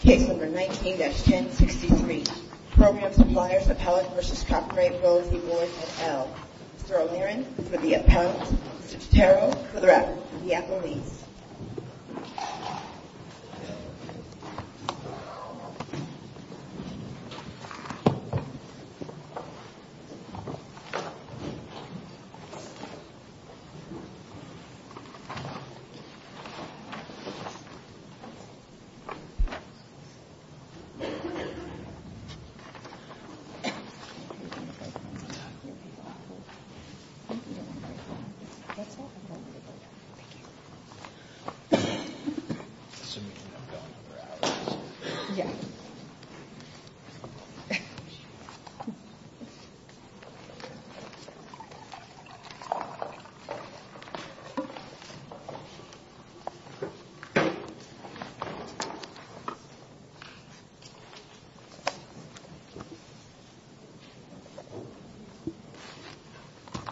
Case No. 19-1063, Program Suppliers, Appellant v. Cochrane, Rose, Yvonne, and Elle. Mr. O'Leary for the Appellant, Mr. Tutero for the Rep, and the Appellees.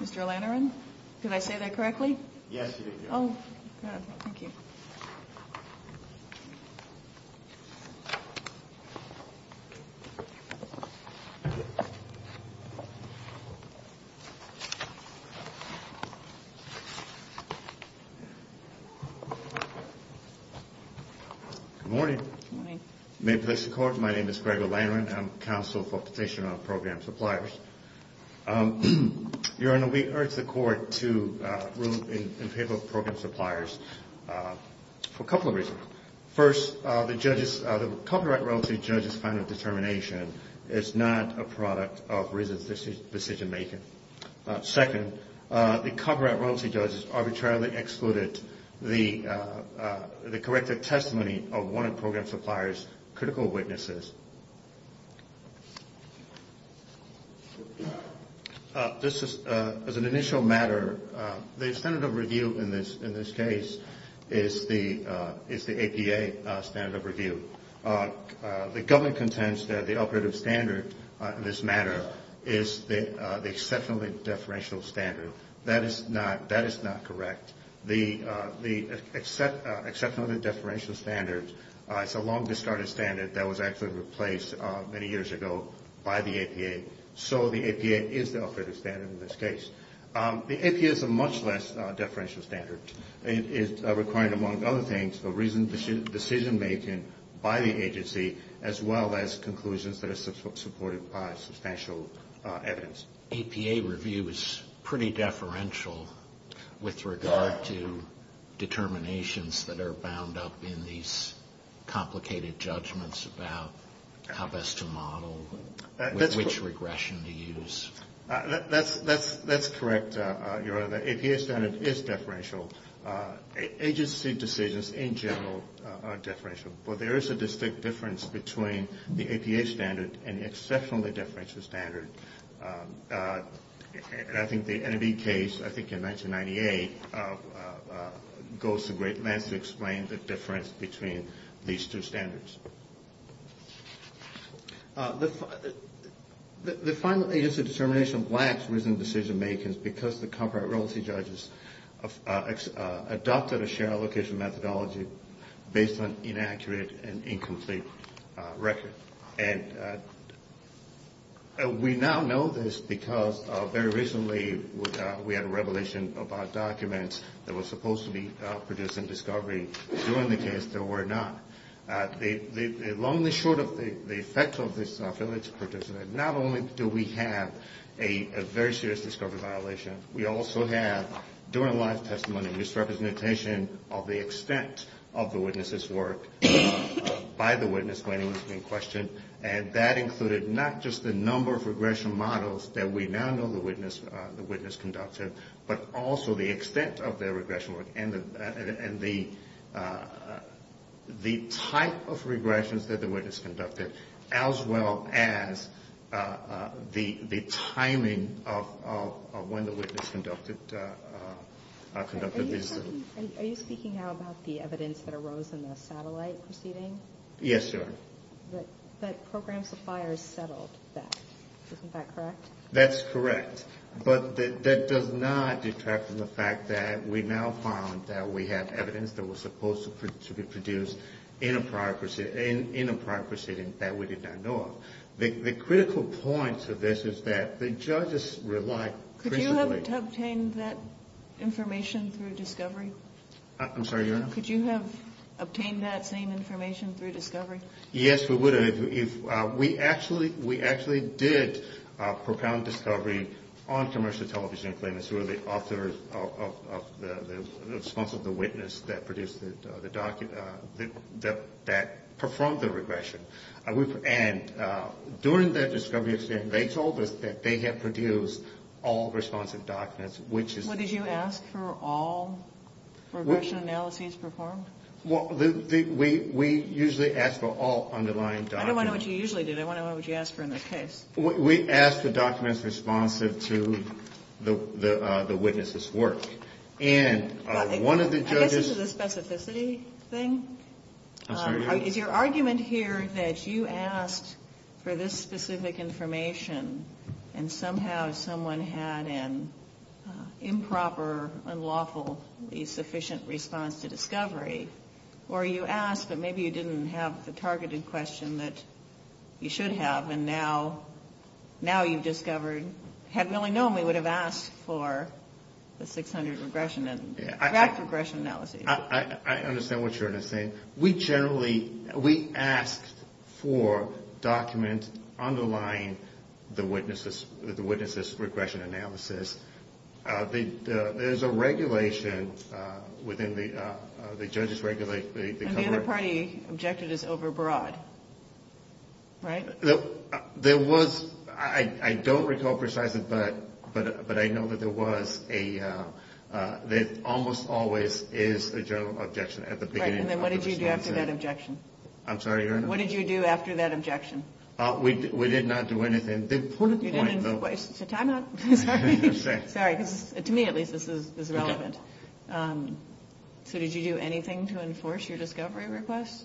Mr. Lanneran, did I say that correctly? Yes, you did. Oh, good. Thank you. Good morning. Good morning. May it please the Court, my name is Gregor Lanneran. I'm Counsel for Petitioner on Program Suppliers. Your Honor, we urge the Court to rule in favor of Program Suppliers for a couple of reasons. First, the Copyright Royalty Judge's final determination is not a product of reasoned decision-making. Second, the Copyright Royalty Judge has arbitrarily excluded the corrected testimony of one of Program Suppliers' critical witnesses. As an initial matter, the standard of review in this case is the APA standard of review. The government contends that the operative standard in this matter is the exceptionally deferential standard. That is not correct. The exceptionally deferential standard is a long-discarded standard that was actually replaced many years ago by the APA. So the APA is the operative standard in this case. The APA is a much less deferential standard. It is required, among other things, of reasoned decision-making by the agency, as well as conclusions that are supported by substantial evidence. APA review is pretty deferential with regard to determinations that are bound up in these complicated judgments about how best to model, which regression to use. That's correct, Your Honor. The APA standard is deferential. Agency decisions, in general, are deferential. But there is a distinct difference between the APA standard and the exceptionally deferential standard. And I think the NAB case, I think in 1998, goes to great lengths to explain the difference between these two standards. The final agency determination lacks reasoned decision-making because the comparability judges adopted a shared allocation methodology based on inaccurate and incomplete record. And we now know this because very recently we had a revelation about documents that were supposed to be producing discovery. During the case, there were not. Longly short of the effect of this, not only do we have a very serious discovery violation, we also have during-life testimony misrepresentation of the extent of the witness's work by the witness when he was being questioned. And that included not just the number of regression models that we now know the witness conducted, but also the extent of their regression work and the type of regressions that the witness conducted, as well as the timing of when the witness conducted these. Are you speaking now about the evidence that arose in the satellite proceeding? Yes, Your Honor. But program suppliers settled that. Isn't that correct? That's correct. But that does not detract from the fact that we now found that we have evidence that was supposed to be produced in a prior proceeding that we did not know of. The critical point of this is that the judges relied principally – Could you have obtained that information through discovery? I'm sorry, Your Honor? Could you have obtained that same information through discovery? Yes, we would have. We actually did propound discovery on commercial television and claimants who were the authors of the response of the witness that produced the document that performed the regression. And during that discovery, they told us that they had produced all responsive documents, which is – What, did you ask for all regression analyses performed? We usually ask for all underlying documents. I don't want to know what you usually do. I want to know what you ask for in this case. We ask for documents responsive to the witness's work. And one of the judges – I guess this is a specificity thing. I'm sorry, Your Honor? Is your argument here that you asked for this specific information and somehow someone had an improper, unlawfully sufficient response to discovery? Or you asked, but maybe you didn't have the targeted question that you should have, and now you've discovered – Had we only known, we would have asked for the 600 regression and tract regression analyses. I understand what you're saying. We generally – we asked for documents underlying the witness's regression analysis. There's a regulation within the – the judges regulate – And the other party objected as overbroad, right? There was – I don't recall precisely, but I know that there was a – there almost always is a general objection at the beginning of the response. Right, and then what did you do after that objection? I'm sorry, Your Honor? What did you do after that objection? We did not do anything. The important point, though – You didn't – so time out. Sorry. Sorry, because to me at least this is relevant. So did you do anything to enforce your discovery request?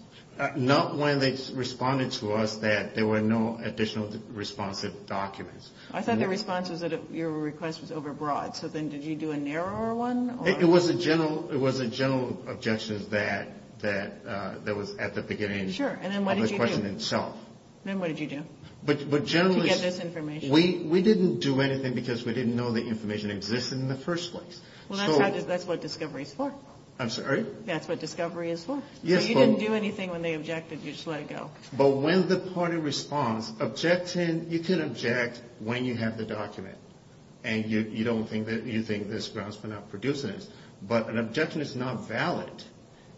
Not when they responded to us that there were no additional responsive documents. I thought the response was that your request was overbroad. So then did you do a narrower one? It was a general – it was a general objection that was at the beginning of the question itself. Sure, and then what did you do? Then what did you do? But generally – To get this information. We didn't do anything because we didn't know the information existed in the first place. Well, that's what discovery is for. I'm sorry? That's what discovery is for. Yes, but – So you didn't do anything when they objected. You just let it go. But when the party responds, objecting – you can object when you have the document and you don't think that – you think this grounds for not producing it, but an objection is not valid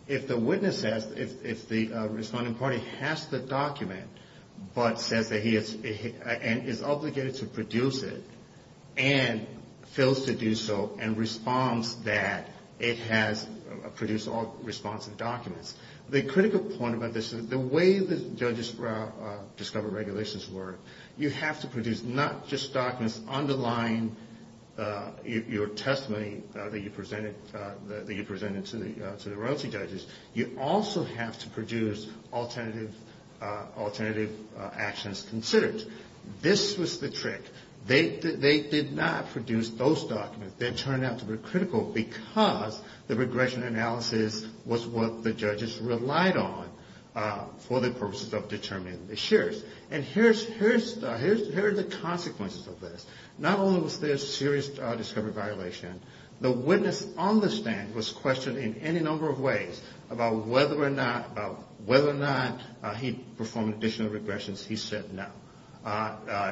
if the witness says – if the responding party has the document but says that he is – and is obligated to produce it and fails to do so and responds that it has produced all responsive documents. The critical point about this is the way that judges discover regulations work. You have to produce not just documents underlying your testimony that you presented to the royalty judges. You also have to produce alternative actions considered. This was the trick. They did not produce those documents. They turned out to be critical because the regression analysis was what the judges relied on for the purposes of determining the shares. And here are the consequences of this. Not only was there a serious discovery violation, the witness on the stand was questioned in any number of ways about whether or not he performed additional regressions. He said no.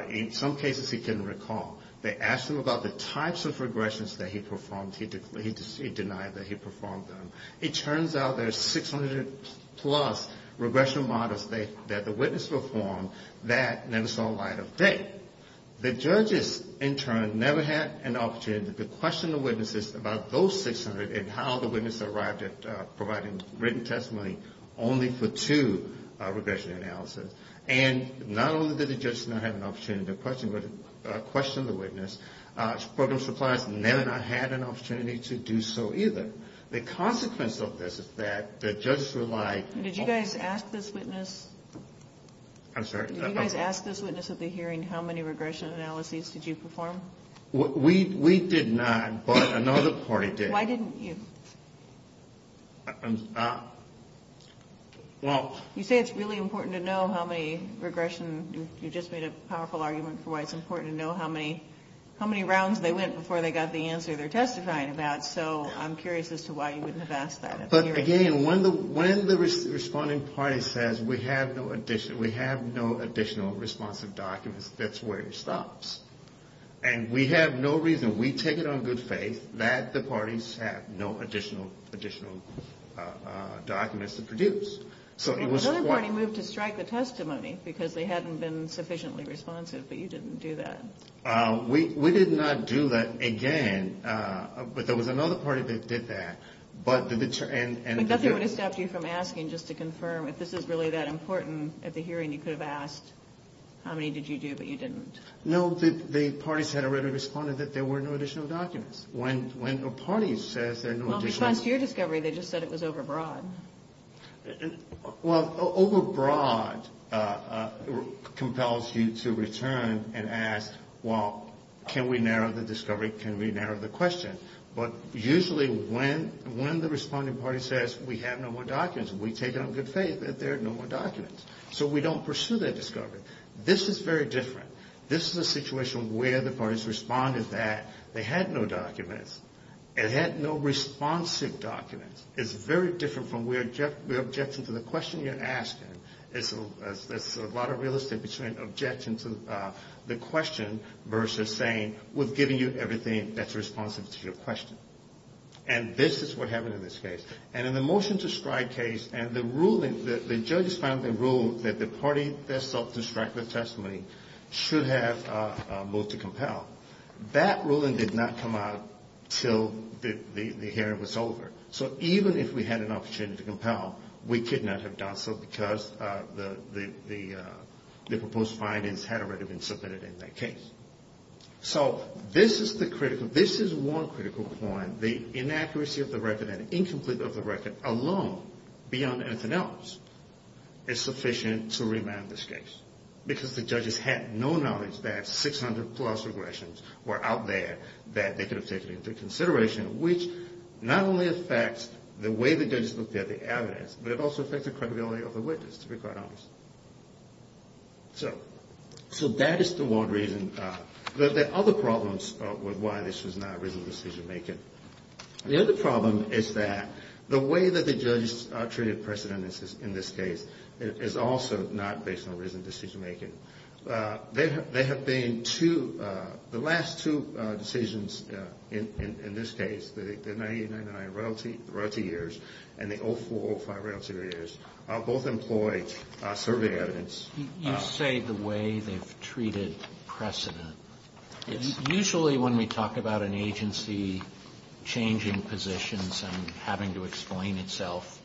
In some cases, he couldn't recall. They asked him about the types of regressions that he performed. He denied that he performed them. It turns out there are 600-plus regression models that the witness performed that never saw the light of day. The judges, in turn, never had an opportunity to question the witnesses about those 600 and how the witness arrived at providing written testimony only for two regression analyses. And not only did the judges not have an opportunity to question the witness, program suppliers never had an opportunity to do so either. The consequence of this is that the judges relied on – Did you guys ask this witness? I'm sorry? Did you guys ask this witness at the hearing how many regression analyses did you perform? We did not, but another party did. Why didn't you? Well – You say it's really important to know how many regression – you just made a powerful argument for why it's important to know how many rounds they went before they got the answer they're testifying about, so I'm curious as to why you wouldn't have asked that at the hearing. But, again, when the responding party says we have no additional responsive documents, that's where it stops. And we have no reason – we take it on good faith that the parties have no additional documents to produce. Another party moved to strike the testimony because they hadn't been sufficiently responsive, but you didn't do that. We did not do that, again, but there was another party that did that, but – Nothing would have stopped you from asking just to confirm if this is really that important at the hearing. You could have asked how many did you do, but you didn't. No, the parties had already responded that there were no additional documents. When a party says there are no additional – Well, in response to your discovery, they just said it was overbroad. Well, overbroad compels you to return and ask, well, can we narrow the discovery, can we narrow the question? But usually when the responding party says we have no more documents, we take it on good faith that there are no more documents. So we don't pursue that discovery. This is very different. This is a situation where the parties responded that they had no documents and had no responsive documents. It's very different from where we object to the question you're asking. There's a lot of real estate between objecting to the question versus saying we've given you everything that's responsive to your question. And this is what happened in this case. And in the motion to strike case, and the ruling – the judges finally ruled that the party that sought to strike the testimony should have a move to compel. That ruling did not come out until the hearing was over. So even if we had an opportunity to compel, we could not have done so because the proposed findings had already been submitted in that case. So this is the critical – this is one critical point. The inaccuracy of the record and incompleteness of the record alone, beyond anything else, is sufficient to remand this case. Because the judges had no knowledge that 600-plus regressions were out there that they could have taken into consideration, which not only affects the way the judges looked at the evidence, but it also affects the credibility of the witness, to be quite honest. So that is the one reason. There are other problems with why this was not reasoned decision-making. The other problem is that the way that the judges treated precedents in this case is also not based on reasoned decision-making. There have been two – the last two decisions in this case, the 1999 royalty years and the 2004-05 royalty years, both employed survey evidence. You say the way they've treated precedent. Usually when we talk about an agency changing positions and having to explain itself,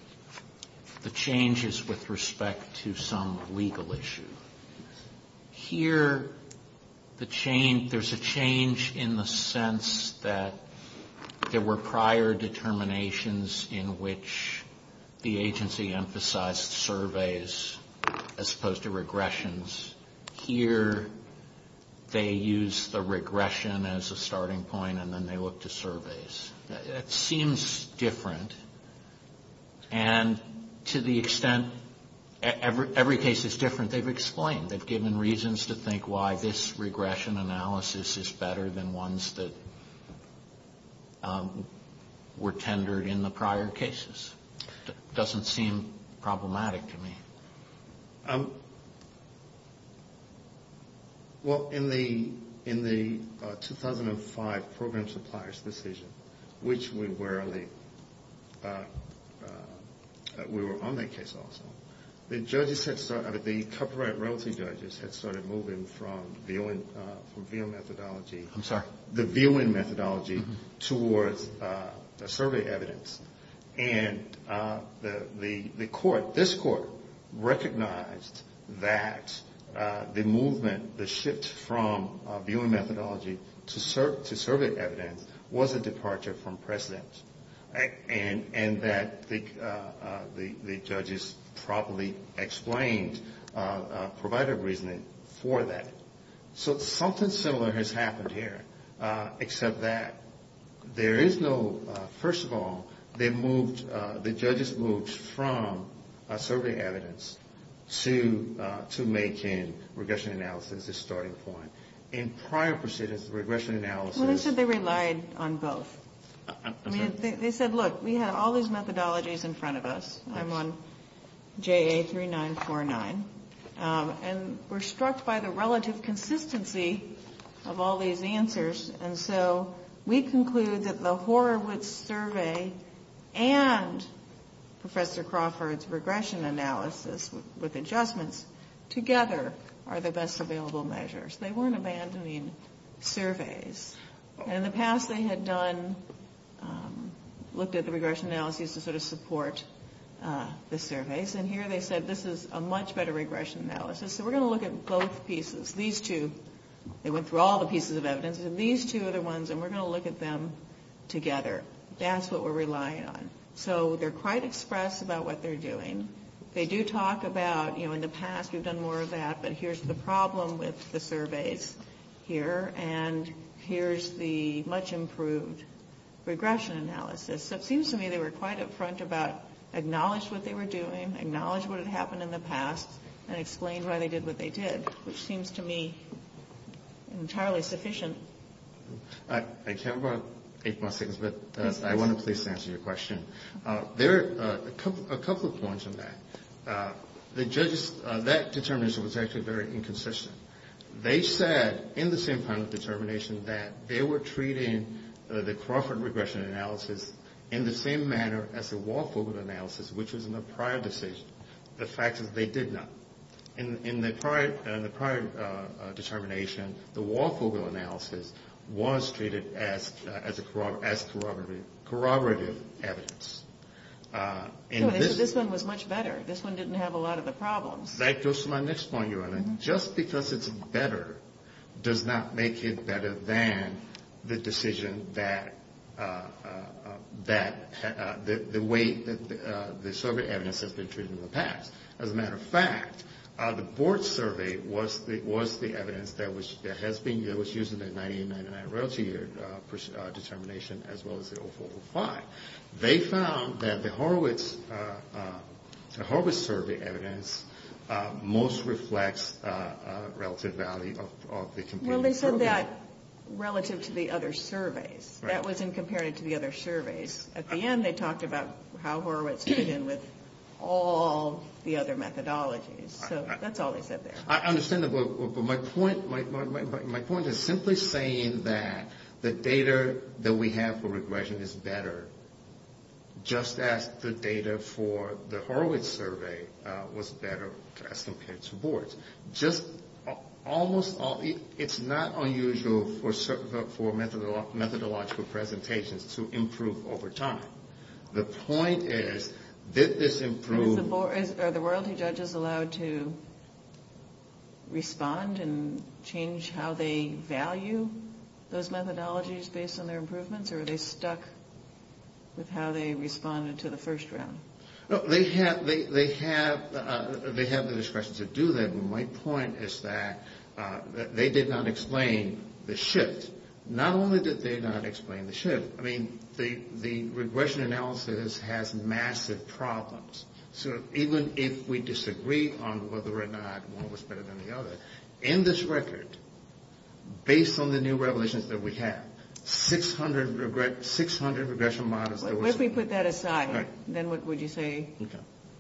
the change is with respect to some legal issue. Here, the change – there's a change in the sense that there were prior determinations in which the agency emphasized surveys as opposed to regressions. Here, they use the regression as a starting point, and then they look to surveys. It seems different, and to the extent every case is different, they've explained. They've given reasons to think why this regression analysis is better than ones that were tendered in the prior cases. It doesn't seem problematic to me. Well, in the 2005 program supplier's decision, which we were on that case also, the judges had started – the copyright royalty judges had started moving from the viewing methodology – I'm sorry. The viewing methodology towards the survey evidence. And the court – this court recognized that the movement, the shift from viewing methodology to survey evidence was a departure from precedent, and that the judges properly explained provider reasoning for that. So something similar has happened here, except that there is no – first of all, they moved – the judges moved from survey evidence to making regression analysis a starting point. In prior proceedings, regression analysis – Well, they said they relied on both. I'm sorry? of all these answers, and so we conclude that the Horowitz survey and Professor Crawford's regression analysis with adjustments together are the best available measures. They weren't abandoning surveys. In the past, they had done – looked at the regression analysis to sort of support the surveys. And here they said this is a much better regression analysis, so we're going to look at both pieces. These two – they went through all the pieces of evidence, and these two other ones, and we're going to look at them together. That's what we're relying on. So they're quite express about what they're doing. They do talk about, you know, in the past we've done more of that, but here's the problem with the surveys here, and here's the much improved regression analysis. So it seems to me they were quite up front about – acknowledged what they were doing, acknowledged what had happened in the past, and explained why they did what they did, which seems to me entirely sufficient. I have about eight more seconds, but I want to please answer your question. There are a couple of points on that. The judges – that determination was actually very inconsistent. They said in the same kind of determination that they were treating the Crawford regression analysis in the same manner as the Waldfogel analysis, which was in the prior decision. The fact is they did not. In the prior determination, the Waldfogel analysis was treated as corroborative evidence. This one was much better. This one didn't have a lot of the problems. That goes to my next point, Your Honor. Just because it's better does not make it better than the decision that – the way that the survey evidence has been treated in the past. As a matter of fact, the board survey was the evidence that was – that has been – that was used in the 1999 royalty determination as well as the 0405. They found that the Horowitz – the Horowitz survey evidence most reflects relative value of the – Well, they said that relative to the other surveys. That wasn't compared to the other surveys. At the end, they talked about how Horowitz fit in with all the other methodologies. So that's all they said there. I understand that, but my point – my point is simply saying that the data that we have for regression is better just as the data for the Horowitz survey was better as compared to boards. Just almost all – it's not unusual for methodological presentations to improve over time. The point is, did this improve – Are the royalty judges allowed to respond and change how they value those methodologies based on their improvements, or are they stuck with how they responded to the first round? They have – they have the discretion to do that. My point is that they did not explain the shift. Not only did they not explain the shift. I mean, the regression analysis has massive problems. So even if we disagree on whether or not one was better than the other, in this record, based on the new revelations that we have, 600 regression models – Well, if we put that aside, then what would you say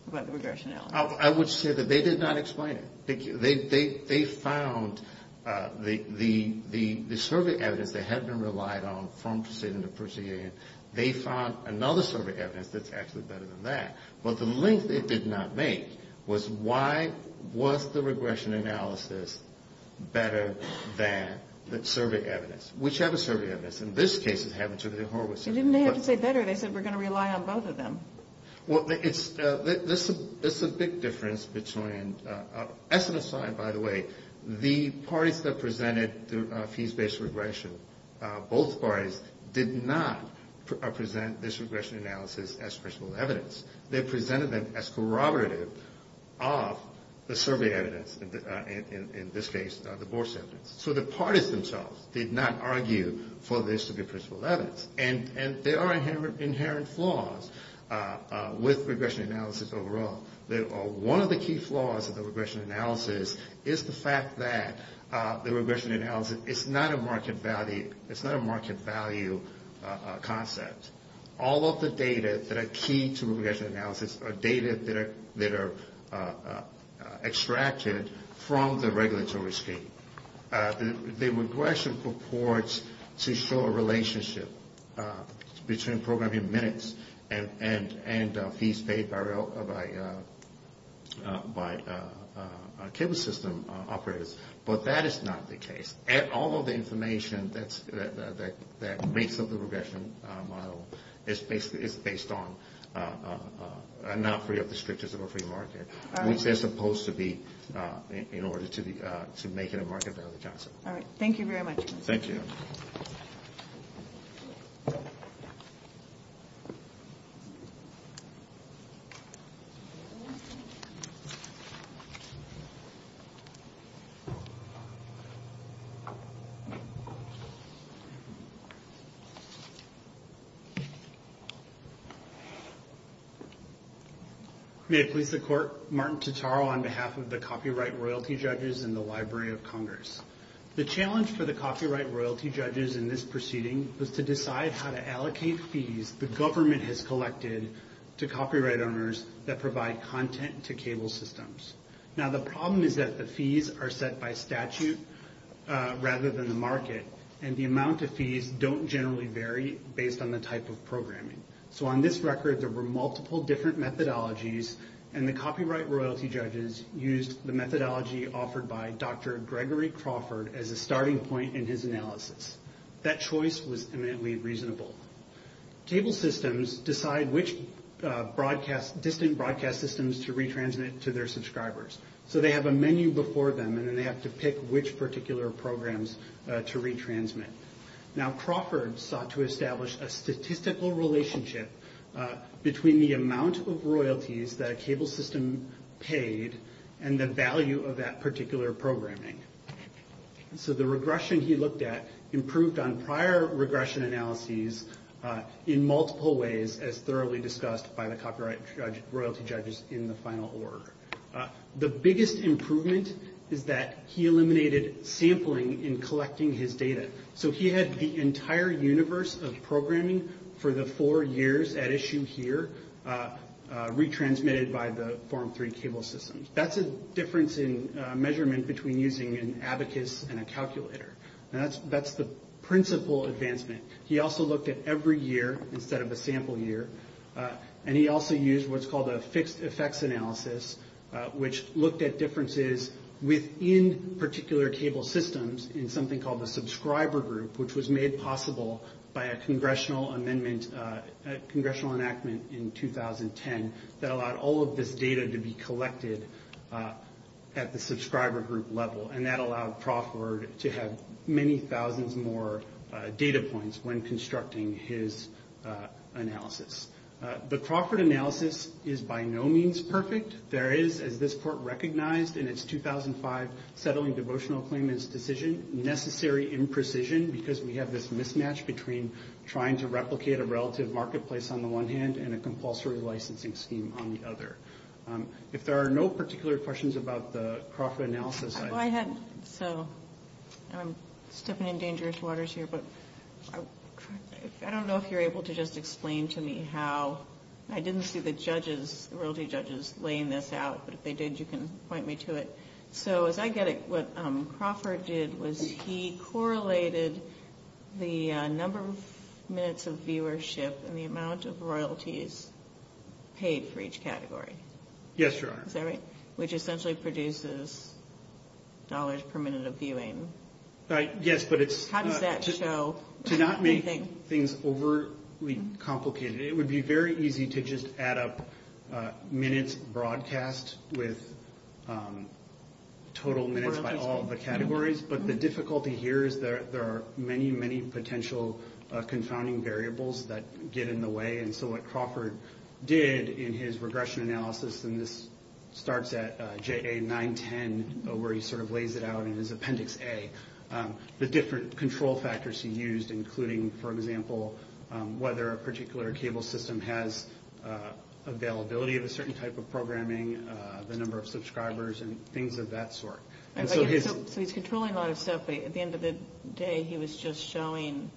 about the regression analysis? I would say that they did not explain it. They found the survey evidence that had been relied on from proceeding to proceeding. They found another survey evidence that's actually better than that. But the link they did not make was why was the regression analysis better than the survey evidence. Whichever survey evidence. In this case, it happened to be the Horowitz survey. They didn't have to say better. They said we're going to rely on both of them. Well, it's – there's a big difference between – as an aside, by the way, the parties that presented the fees-based regression, both parties did not present this regression analysis as principle evidence. They presented them as corroborative of the survey evidence, in this case, the BORS evidence. So the parties themselves did not argue for this to be principle evidence. And there are inherent flaws with regression analysis overall. One of the key flaws of the regression analysis is the fact that the regression analysis is not a market value concept. All of the data that are key to regression analysis are data that are extracted from the regulatory scheme. The regression purports to show a relationship between programming minutes and fees paid by cable system operators. But that is not the case. All of the information that makes up the regression model is based on – are not free of the strictures of a free market, which they're supposed to be in order to make it a market value concept. All right. Thank you very much. Thank you. May it please the Court. Martin Totaro on behalf of the Copyright Royalty Judges and the Library of Congress. The challenge for the Copyright Royalty Judges in this proceeding was to decide how to allocate fees the government has collected to copyright owners that provide content to cable systems. Now, the problem is that the fees are set by statute rather than the market, and the amount of fees don't generally vary based on the type of programming. So on this record, there were multiple different methodologies, and the Copyright Royalty Judges used the methodology offered by Dr. Gregory Crawford as a starting point in his analysis. That choice was eminently reasonable. Cable systems decide which distant broadcast systems to retransmit to their subscribers. So they have a menu before them, and then they have to pick which particular programs to retransmit. Now, Crawford sought to establish a statistical relationship between the amount of royalties that a cable system paid and the value of that particular programming. So the regression he looked at improved on prior regression analyses in multiple ways, as thoroughly discussed by the Copyright Royalty Judges in the final order. The biggest improvement is that he eliminated sampling in collecting his data. So he had the entire universe of programming for the four years at issue here retransmitted by the Form 3 cable systems. That's a difference in measurement between using an abacus and a calculator. Now, that's the principal advancement. He also looked at every year instead of a sample year, and he also used what's called a fixed effects analysis, which looked at differences within particular cable systems in something called the subscriber group, which was made possible by a congressional amendment, a congressional enactment in 2010, that allowed all of this data to be collected at the subscriber group level, and that allowed Crawford to have many thousands more data points when constructing his analysis. The Crawford analysis is by no means perfect. There is, as this Court recognized in its 2005 Settling Devotional Claimants decision, necessary imprecision because we have this mismatch between trying to replicate a relative marketplace on the one hand and a compulsory licensing scheme on the other. If there are no particular questions about the Crawford analysis... I'm stepping in dangerous waters here, but I don't know if you're able to just explain to me how... I didn't see the royalty judges laying this out, but if they did, you can point me to it. So as I get it, what Crawford did was he correlated the number of minutes of viewership and the amount of royalties paid for each category. Yes, Your Honor. Is that right? Which essentially produces dollars per minute of viewing. Yes, but it's... How does that show? To not make things overly complicated, it would be very easy to just add up minutes broadcast with total minutes by all the categories, but the difficulty here is there are many, many potential confounding variables that get in the way. And so what Crawford did in his regression analysis, and this starts at JA-910 where he sort of lays it out in his Appendix A, the different control factors he used including, for example, whether a particular cable system has availability of a certain type of programming, the number of subscribers, and things of that sort. So he's controlling a lot of stuff, but at the end of the day he was just showing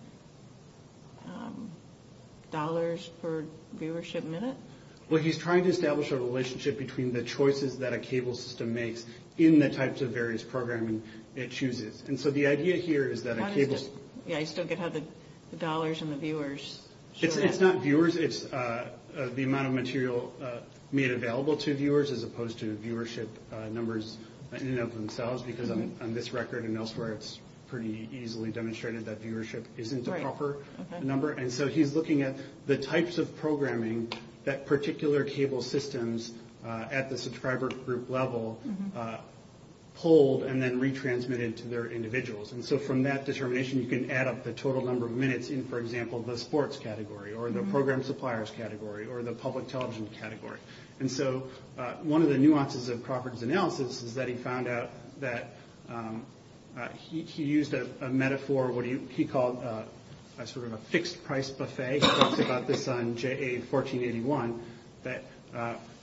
dollars per viewership minute? Well, he's trying to establish a relationship between the choices that a cable system makes in the types of various programming it chooses. And so the idea here is that a cable... Yeah, I still get how the dollars and the viewers show up. It's not viewers. It's the amount of material made available to viewers as opposed to viewership numbers in and of themselves because on this record and elsewhere it's pretty easily demonstrated that viewership isn't a proper number. And so he's looking at the types of programming that particular cable systems at the subscriber group level pulled and then retransmitted to their individuals. And so from that determination you can add up the total number of minutes in, for example, the sports category or the program suppliers category or the public television category. And so one of the nuances of Crawford's analysis is that he found out that he used a metaphor, what he called sort of a fixed price buffet. He talks about this on JA 1481 that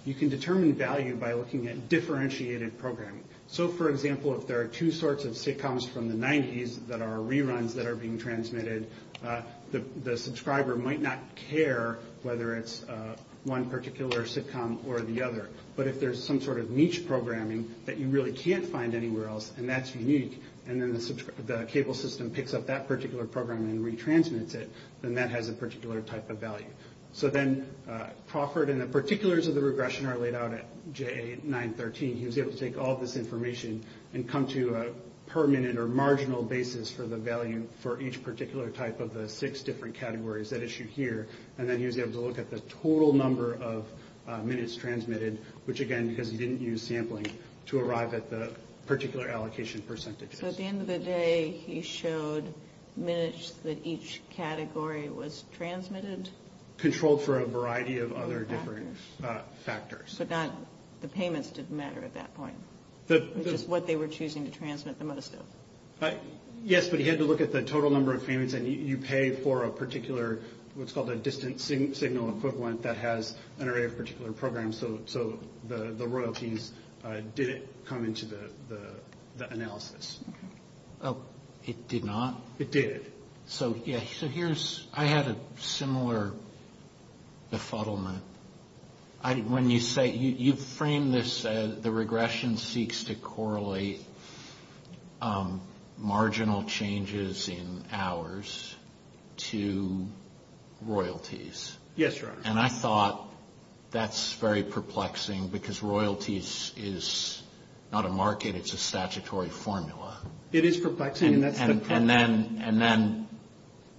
you can determine value by looking at differentiated programming. So, for example, if there are two sorts of sitcoms from the 90s that are reruns that are being transmitted, the subscriber might not care whether it's one particular sitcom or the other. But if there's some sort of niche programming that you really can't find anywhere else and that's unique and then the cable system picks up that particular program and retransmits it, then that has a particular type of value. So then Crawford and the particulars of the regression are laid out at JA 913. He was able to take all this information and come to a permanent or marginal basis for the value for each particular type of the six different categories that issue here. And then he was able to look at the total number of minutes transmitted, which, again, because he didn't use sampling, to arrive at the particular allocation percentages. So at the end of the day, he showed minutes that each category was transmitted? Controlled for a variety of other different factors. But the payments didn't matter at that point? Just what they were choosing to transmit the most of? Yes, but he had to look at the total number of payments and you pay for a particular, what's called a distance signal equivalent that has an array of particular programs. So the royalties didn't come into the analysis. It did not? It did. So here's, I had a similar befuddlement. When you say, you frame this as the regression seeks to correlate marginal changes in hours to royalties. Yes, Your Honor. And I thought that's very perplexing because royalties is not a market, it's a statutory formula. It is perplexing and that's the problem. And then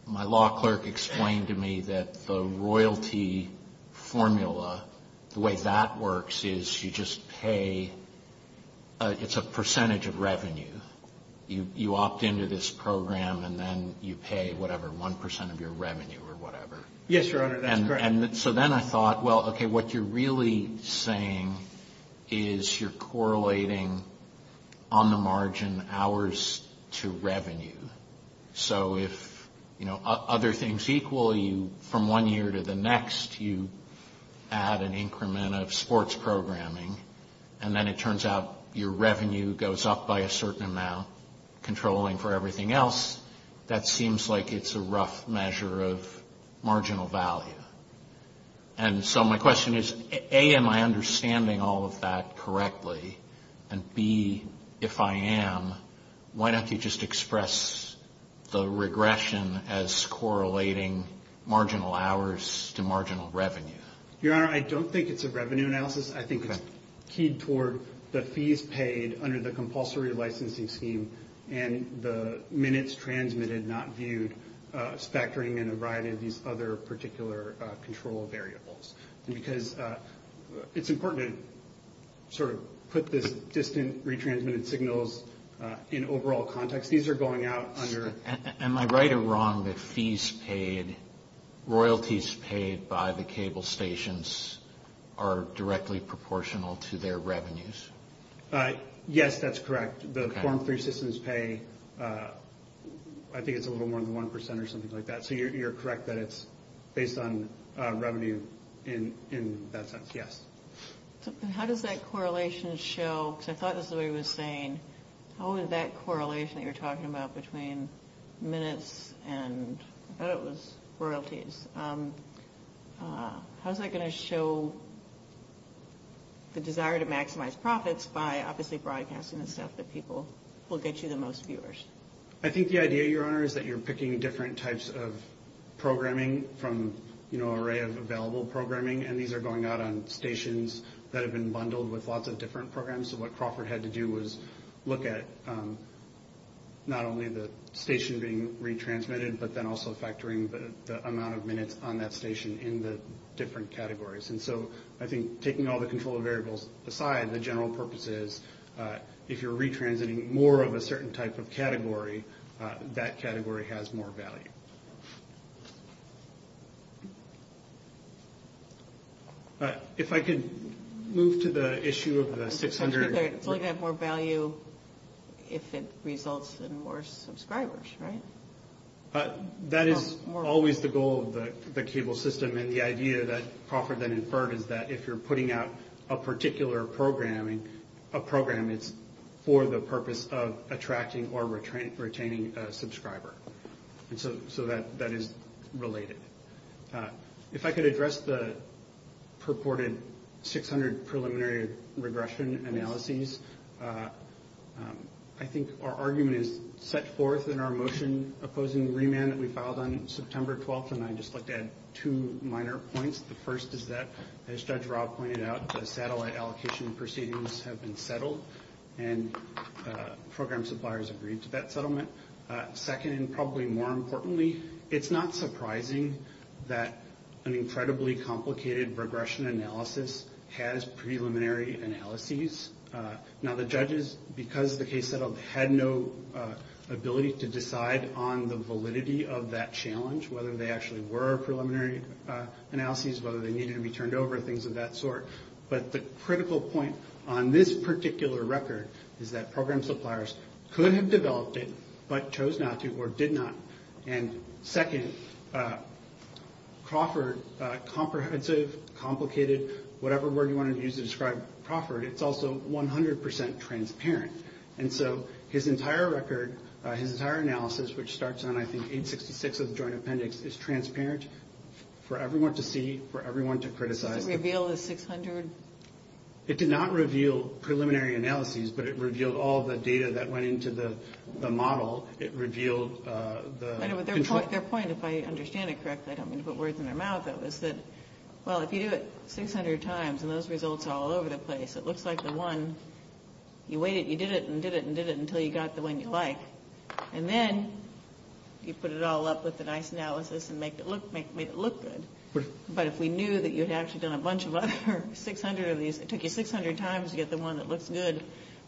my law clerk explained to me that the royalty formula, the way that works is you just pay, it's a percentage of revenue. You opt into this program and then you pay whatever, 1% of your revenue or whatever. Yes, Your Honor, that's correct. And so then I thought, well, okay, what you're really saying is you're correlating on the margin hours to revenue. So if, you know, other things equal you from one year to the next, you add an increment of sports programming and then it turns out your revenue goes up by a certain amount, controlling for everything else, that seems like it's a rough measure of marginal value. And so my question is, A, am I understanding all of that correctly? And B, if I am, why don't you just express the regression as correlating marginal hours to marginal revenue? Your Honor, I don't think it's a revenue analysis. I think it's keyed toward the fees paid under the compulsory licensing scheme and the minutes transmitted not viewed factoring in a variety of these other particular control variables. Because it's important to sort of put this distant retransmitted signals in overall context. These are going out under- Am I right or wrong that fees paid, royalties paid by the cable stations are directly proportional to their revenues? Yes, that's correct. The form three systems pay, I think it's a little more than 1% or something like that. So you're correct that it's based on revenue in that sense, yes. How does that correlation show? Because I thought this is what he was saying. How is that correlation that you're talking about between minutes and I thought it was royalties. How is that going to show the desire to maximize profits by obviously broadcasting the stuff that people will get you the most viewers? I think the idea, Your Honor, is that you're picking different types of programming from an array of available programming. And these are going out on stations that have been bundled with lots of different programs. So what Crawford had to do was look at not only the station being retransmitted, but then also factoring the amount of minutes on that station in the different categories. And so I think taking all the control variables aside, the general purpose is if you're retransmitting more of a certain type of category, that category has more value. If I could move to the issue of the 600. It's only going to have more value if it results in more subscribers, right? That is always the goal of the cable system. And the idea that Crawford then inferred is that if you're putting out a particular program, it's for the purpose of attracting or retaining a subscriber. So that is related. If I could address the purported 600 preliminary regression analyses, I think our argument is set forth in our motion opposing the remand that we filed on September 12th, and I'd just like to add two minor points. The first is that, as Judge Rob pointed out, the satellite allocation proceedings have been settled, and program suppliers agreed to that settlement. Second, and probably more importantly, it's not surprising that an incredibly complicated regression analysis has preliminary analyses. Now, the judges, because the case settled, had no ability to decide on the validity of that challenge, whether they actually were preliminary analyses, whether they needed to be turned over, things of that sort. But the critical point on this particular record is that program suppliers could have developed it, but chose not to or did not. And second, Crawford, comprehensive, complicated, whatever word you want to use to describe Crawford, it's also 100% transparent. And so his entire record, his entire analysis, which starts on, I think, 866 of the Joint Appendix, is transparent for everyone to see, for everyone to criticize. Did it reveal the 600? It did not reveal preliminary analyses, but it revealed all the data that went into the model. It revealed the control. Their point, if I understand it correctly, I don't mean to put words in their mouth, is that, well, if you do it 600 times and those results are all over the place, it looks like the one you waited, you did it and did it and did it until you got the one you like. And then you put it all up with the nice analysis and made it look good. But if we knew that you had actually done a bunch of other 600 of these, it took you 600 times to get the one that looks good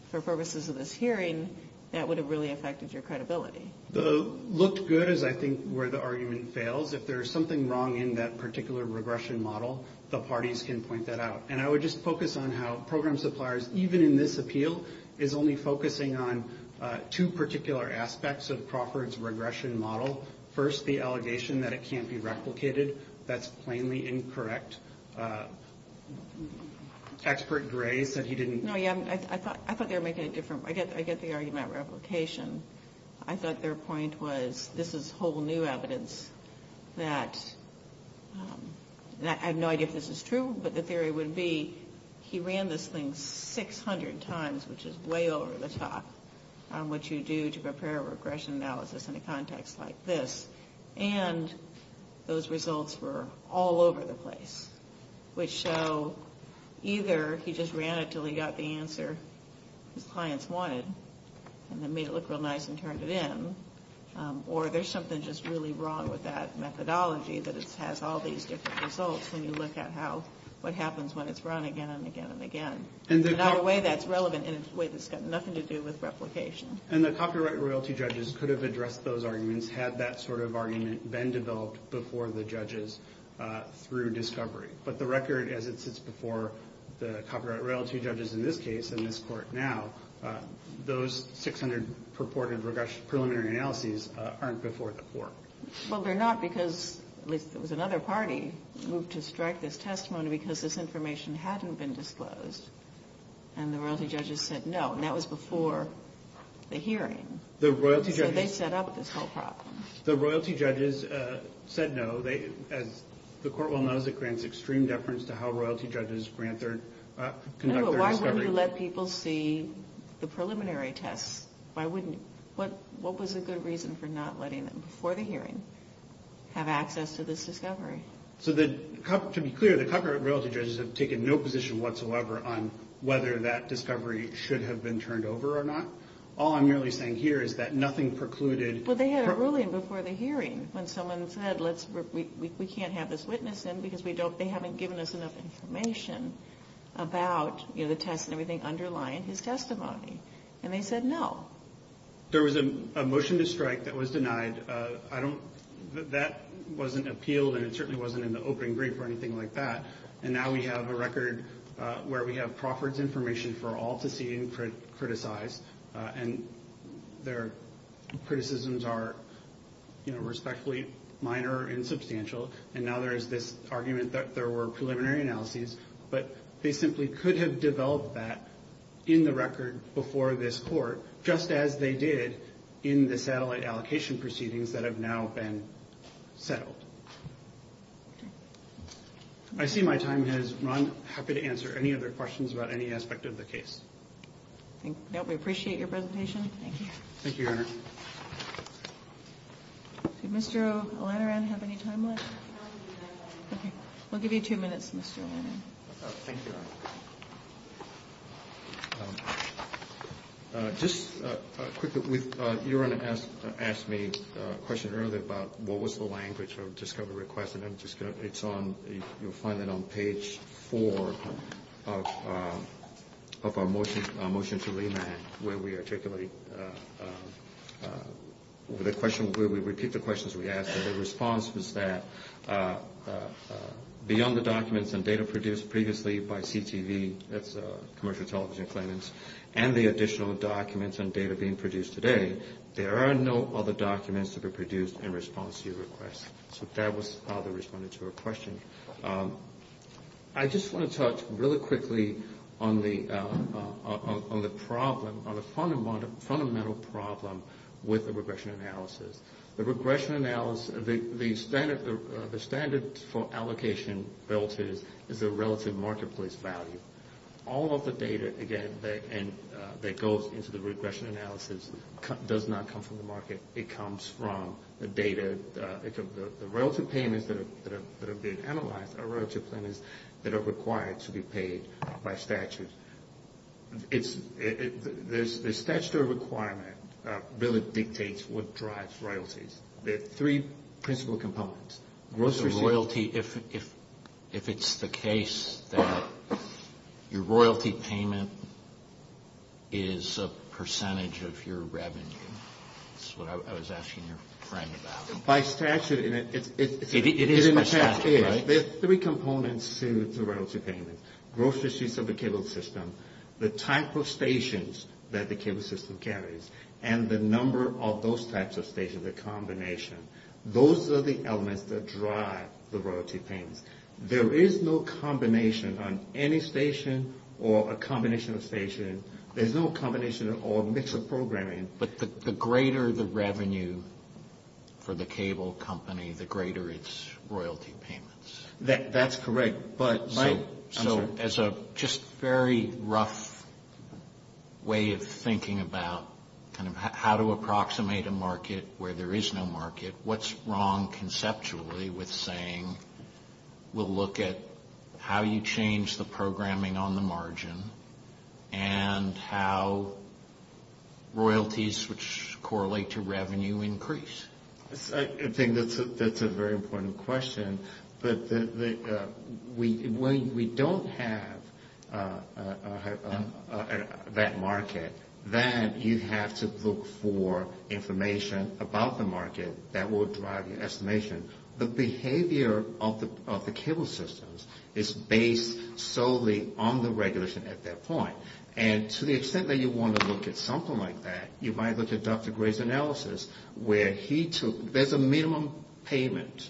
for purposes of this hearing, that would have really affected your credibility. The looked good is, I think, where the argument fails. If there's something wrong in that particular regression model, the parties can point that out. And I would just focus on how program suppliers, even in this appeal, is only focusing on two particular aspects of Crawford's regression model. First, the allegation that it can't be replicated. That's plainly incorrect. Expert Gray said he didn't... No, yeah, I thought they were making it different. I get the argument about replication. I thought their point was this is whole new evidence that... He ran this thing 600 times, which is way over the top, on what you do to prepare a regression analysis in a context like this. And those results were all over the place, which show either he just ran it until he got the answer his clients wanted and then made it look real nice and turned it in, or there's something just really wrong with that methodology that it has all these different results when you look at what happens when it's run again and again and again. In a way that's relevant in a way that's got nothing to do with replication. And the copyright royalty judges could have addressed those arguments had that sort of argument been developed before the judges through discovery. But the record as it sits before the copyright royalty judges in this case, in this court now, those 600 purported preliminary analyses aren't before the court. Well, they're not because, at least there was another party who moved to strike this testimony because this information hadn't been disclosed. And the royalty judges said no, and that was before the hearing. So they set up this whole problem. The royalty judges said no. As the court well knows, it grants extreme deference to how royalty judges conduct their discovery. Why wouldn't you let people see the preliminary tests? What was a good reason for not letting them before the hearing have access to this discovery? So to be clear, the copyright royalty judges have taken no position whatsoever on whether that discovery should have been turned over or not. All I'm really saying here is that nothing precluded... Well, they had a ruling before the hearing when someone said we can't have this witness in because they haven't given us enough information about the tests and everything underlying his testimony. And they said no. There was a motion to strike that was denied. That wasn't appealed, and it certainly wasn't in the opening brief or anything like that. And now we have a record where we have Crawford's information for all to see and criticize, and their criticisms are respectfully minor and substantial. And now there is this argument that there were preliminary analyses, but they simply could have developed that in the record before this court just as they did in the satellite allocation proceedings that have now been settled. I see my time has run. I'm happy to answer any other questions about any aspect of the case. No, we appreciate your presentation. Thank you. Thank you, Your Honor. Does Mr. O'Lantern have any time left? Okay. We'll give you two minutes, Mr. O'Lantern. Thank you, Your Honor. Just quickly, Your Honor asked me a question earlier about what was the language of discovery request, and you'll find that on page 4 of our motion to remand where we articulate the question, where we repeat the questions we ask. The response was that beyond the documents and data produced previously by CTV, that's commercial television claimants, and the additional documents and data being produced today, there are no other documents to be produced in response to your request. So that was how they responded to her question. I just want to touch really quickly on the problem, on the fundamental problem with the regression analysis. The regression analysis, the standard for allocation relative is the relative marketplace value. All of the data, again, that goes into the regression analysis does not come from the market. It comes from the data. The relative payments that are being analyzed are relative payments that are required to be paid by statute. The statutory requirement really dictates what drives royalties. There are three principal components. If it's the case that your royalty payment is a percentage of your revenue, that's what I was asking your friend about. By statute, it is a percentage. There are three components to the royalty payment. Grocery sheets of the cable system, the type of stations that the cable system carries, and the number of those types of stations, the combination. Those are the elements that drive the royalty payments. There is no combination on any station or a combination of stations. There's no combination or mix of programming. But the greater the revenue for the cable company, the greater its royalty payments. That's correct. So as a just very rough way of thinking about kind of how to approximate a market where there is no market, what's wrong conceptually with saying we'll look at how you change the programming on the margin and how royalties, which correlate to revenue, increase? I think that's a very important question. When we don't have that market, then you have to look for information about the market that will drive your estimation. The behavior of the cable systems is based solely on the regulation at that point. And to the extent that you want to look at something like that, you might look at Dr. Gray's analysis where there's a minimum payment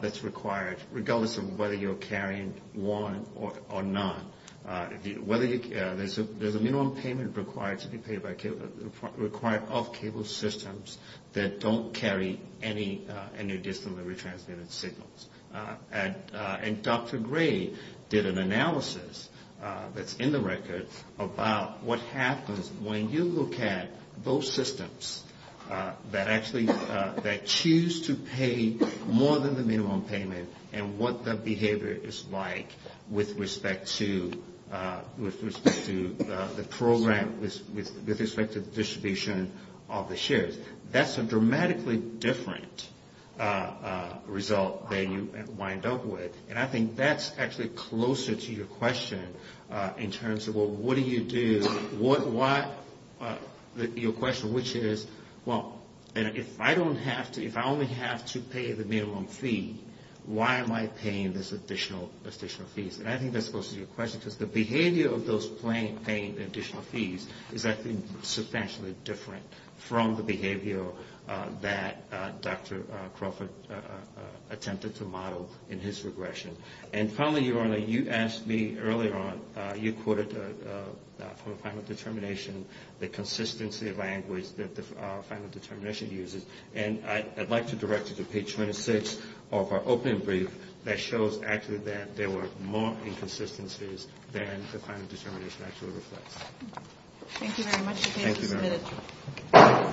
that's required, regardless of whether you're carrying one or none. There's a minimum payment required of cable systems that don't carry any additionally retransmitted signals. And Dr. Gray did an analysis that's in the record about what happens when you look at those systems that actually choose to pay more than the minimum payment and what that behavior is like with respect to the program, with respect to the distribution of the shares. That's a dramatically different result than you wind up with. And I think that's actually closer to your question in terms of, well, what do you do? Your question, which is, well, if I only have to pay the minimum fee, why am I paying these additional fees? And I think that's closer to your question because the behavior of those paying additional fees is, I think, that Dr. Crawford attempted to model in his regression. And finally, Your Honor, you asked me earlier on, you quoted from the Final Determination the consistency of language that the Final Determination uses. And I'd like to direct you to page 26 of our opening brief that shows, actually, that there were more inconsistencies than the Final Determination actually reflects. Thank you very much. Thank you, Your Honor.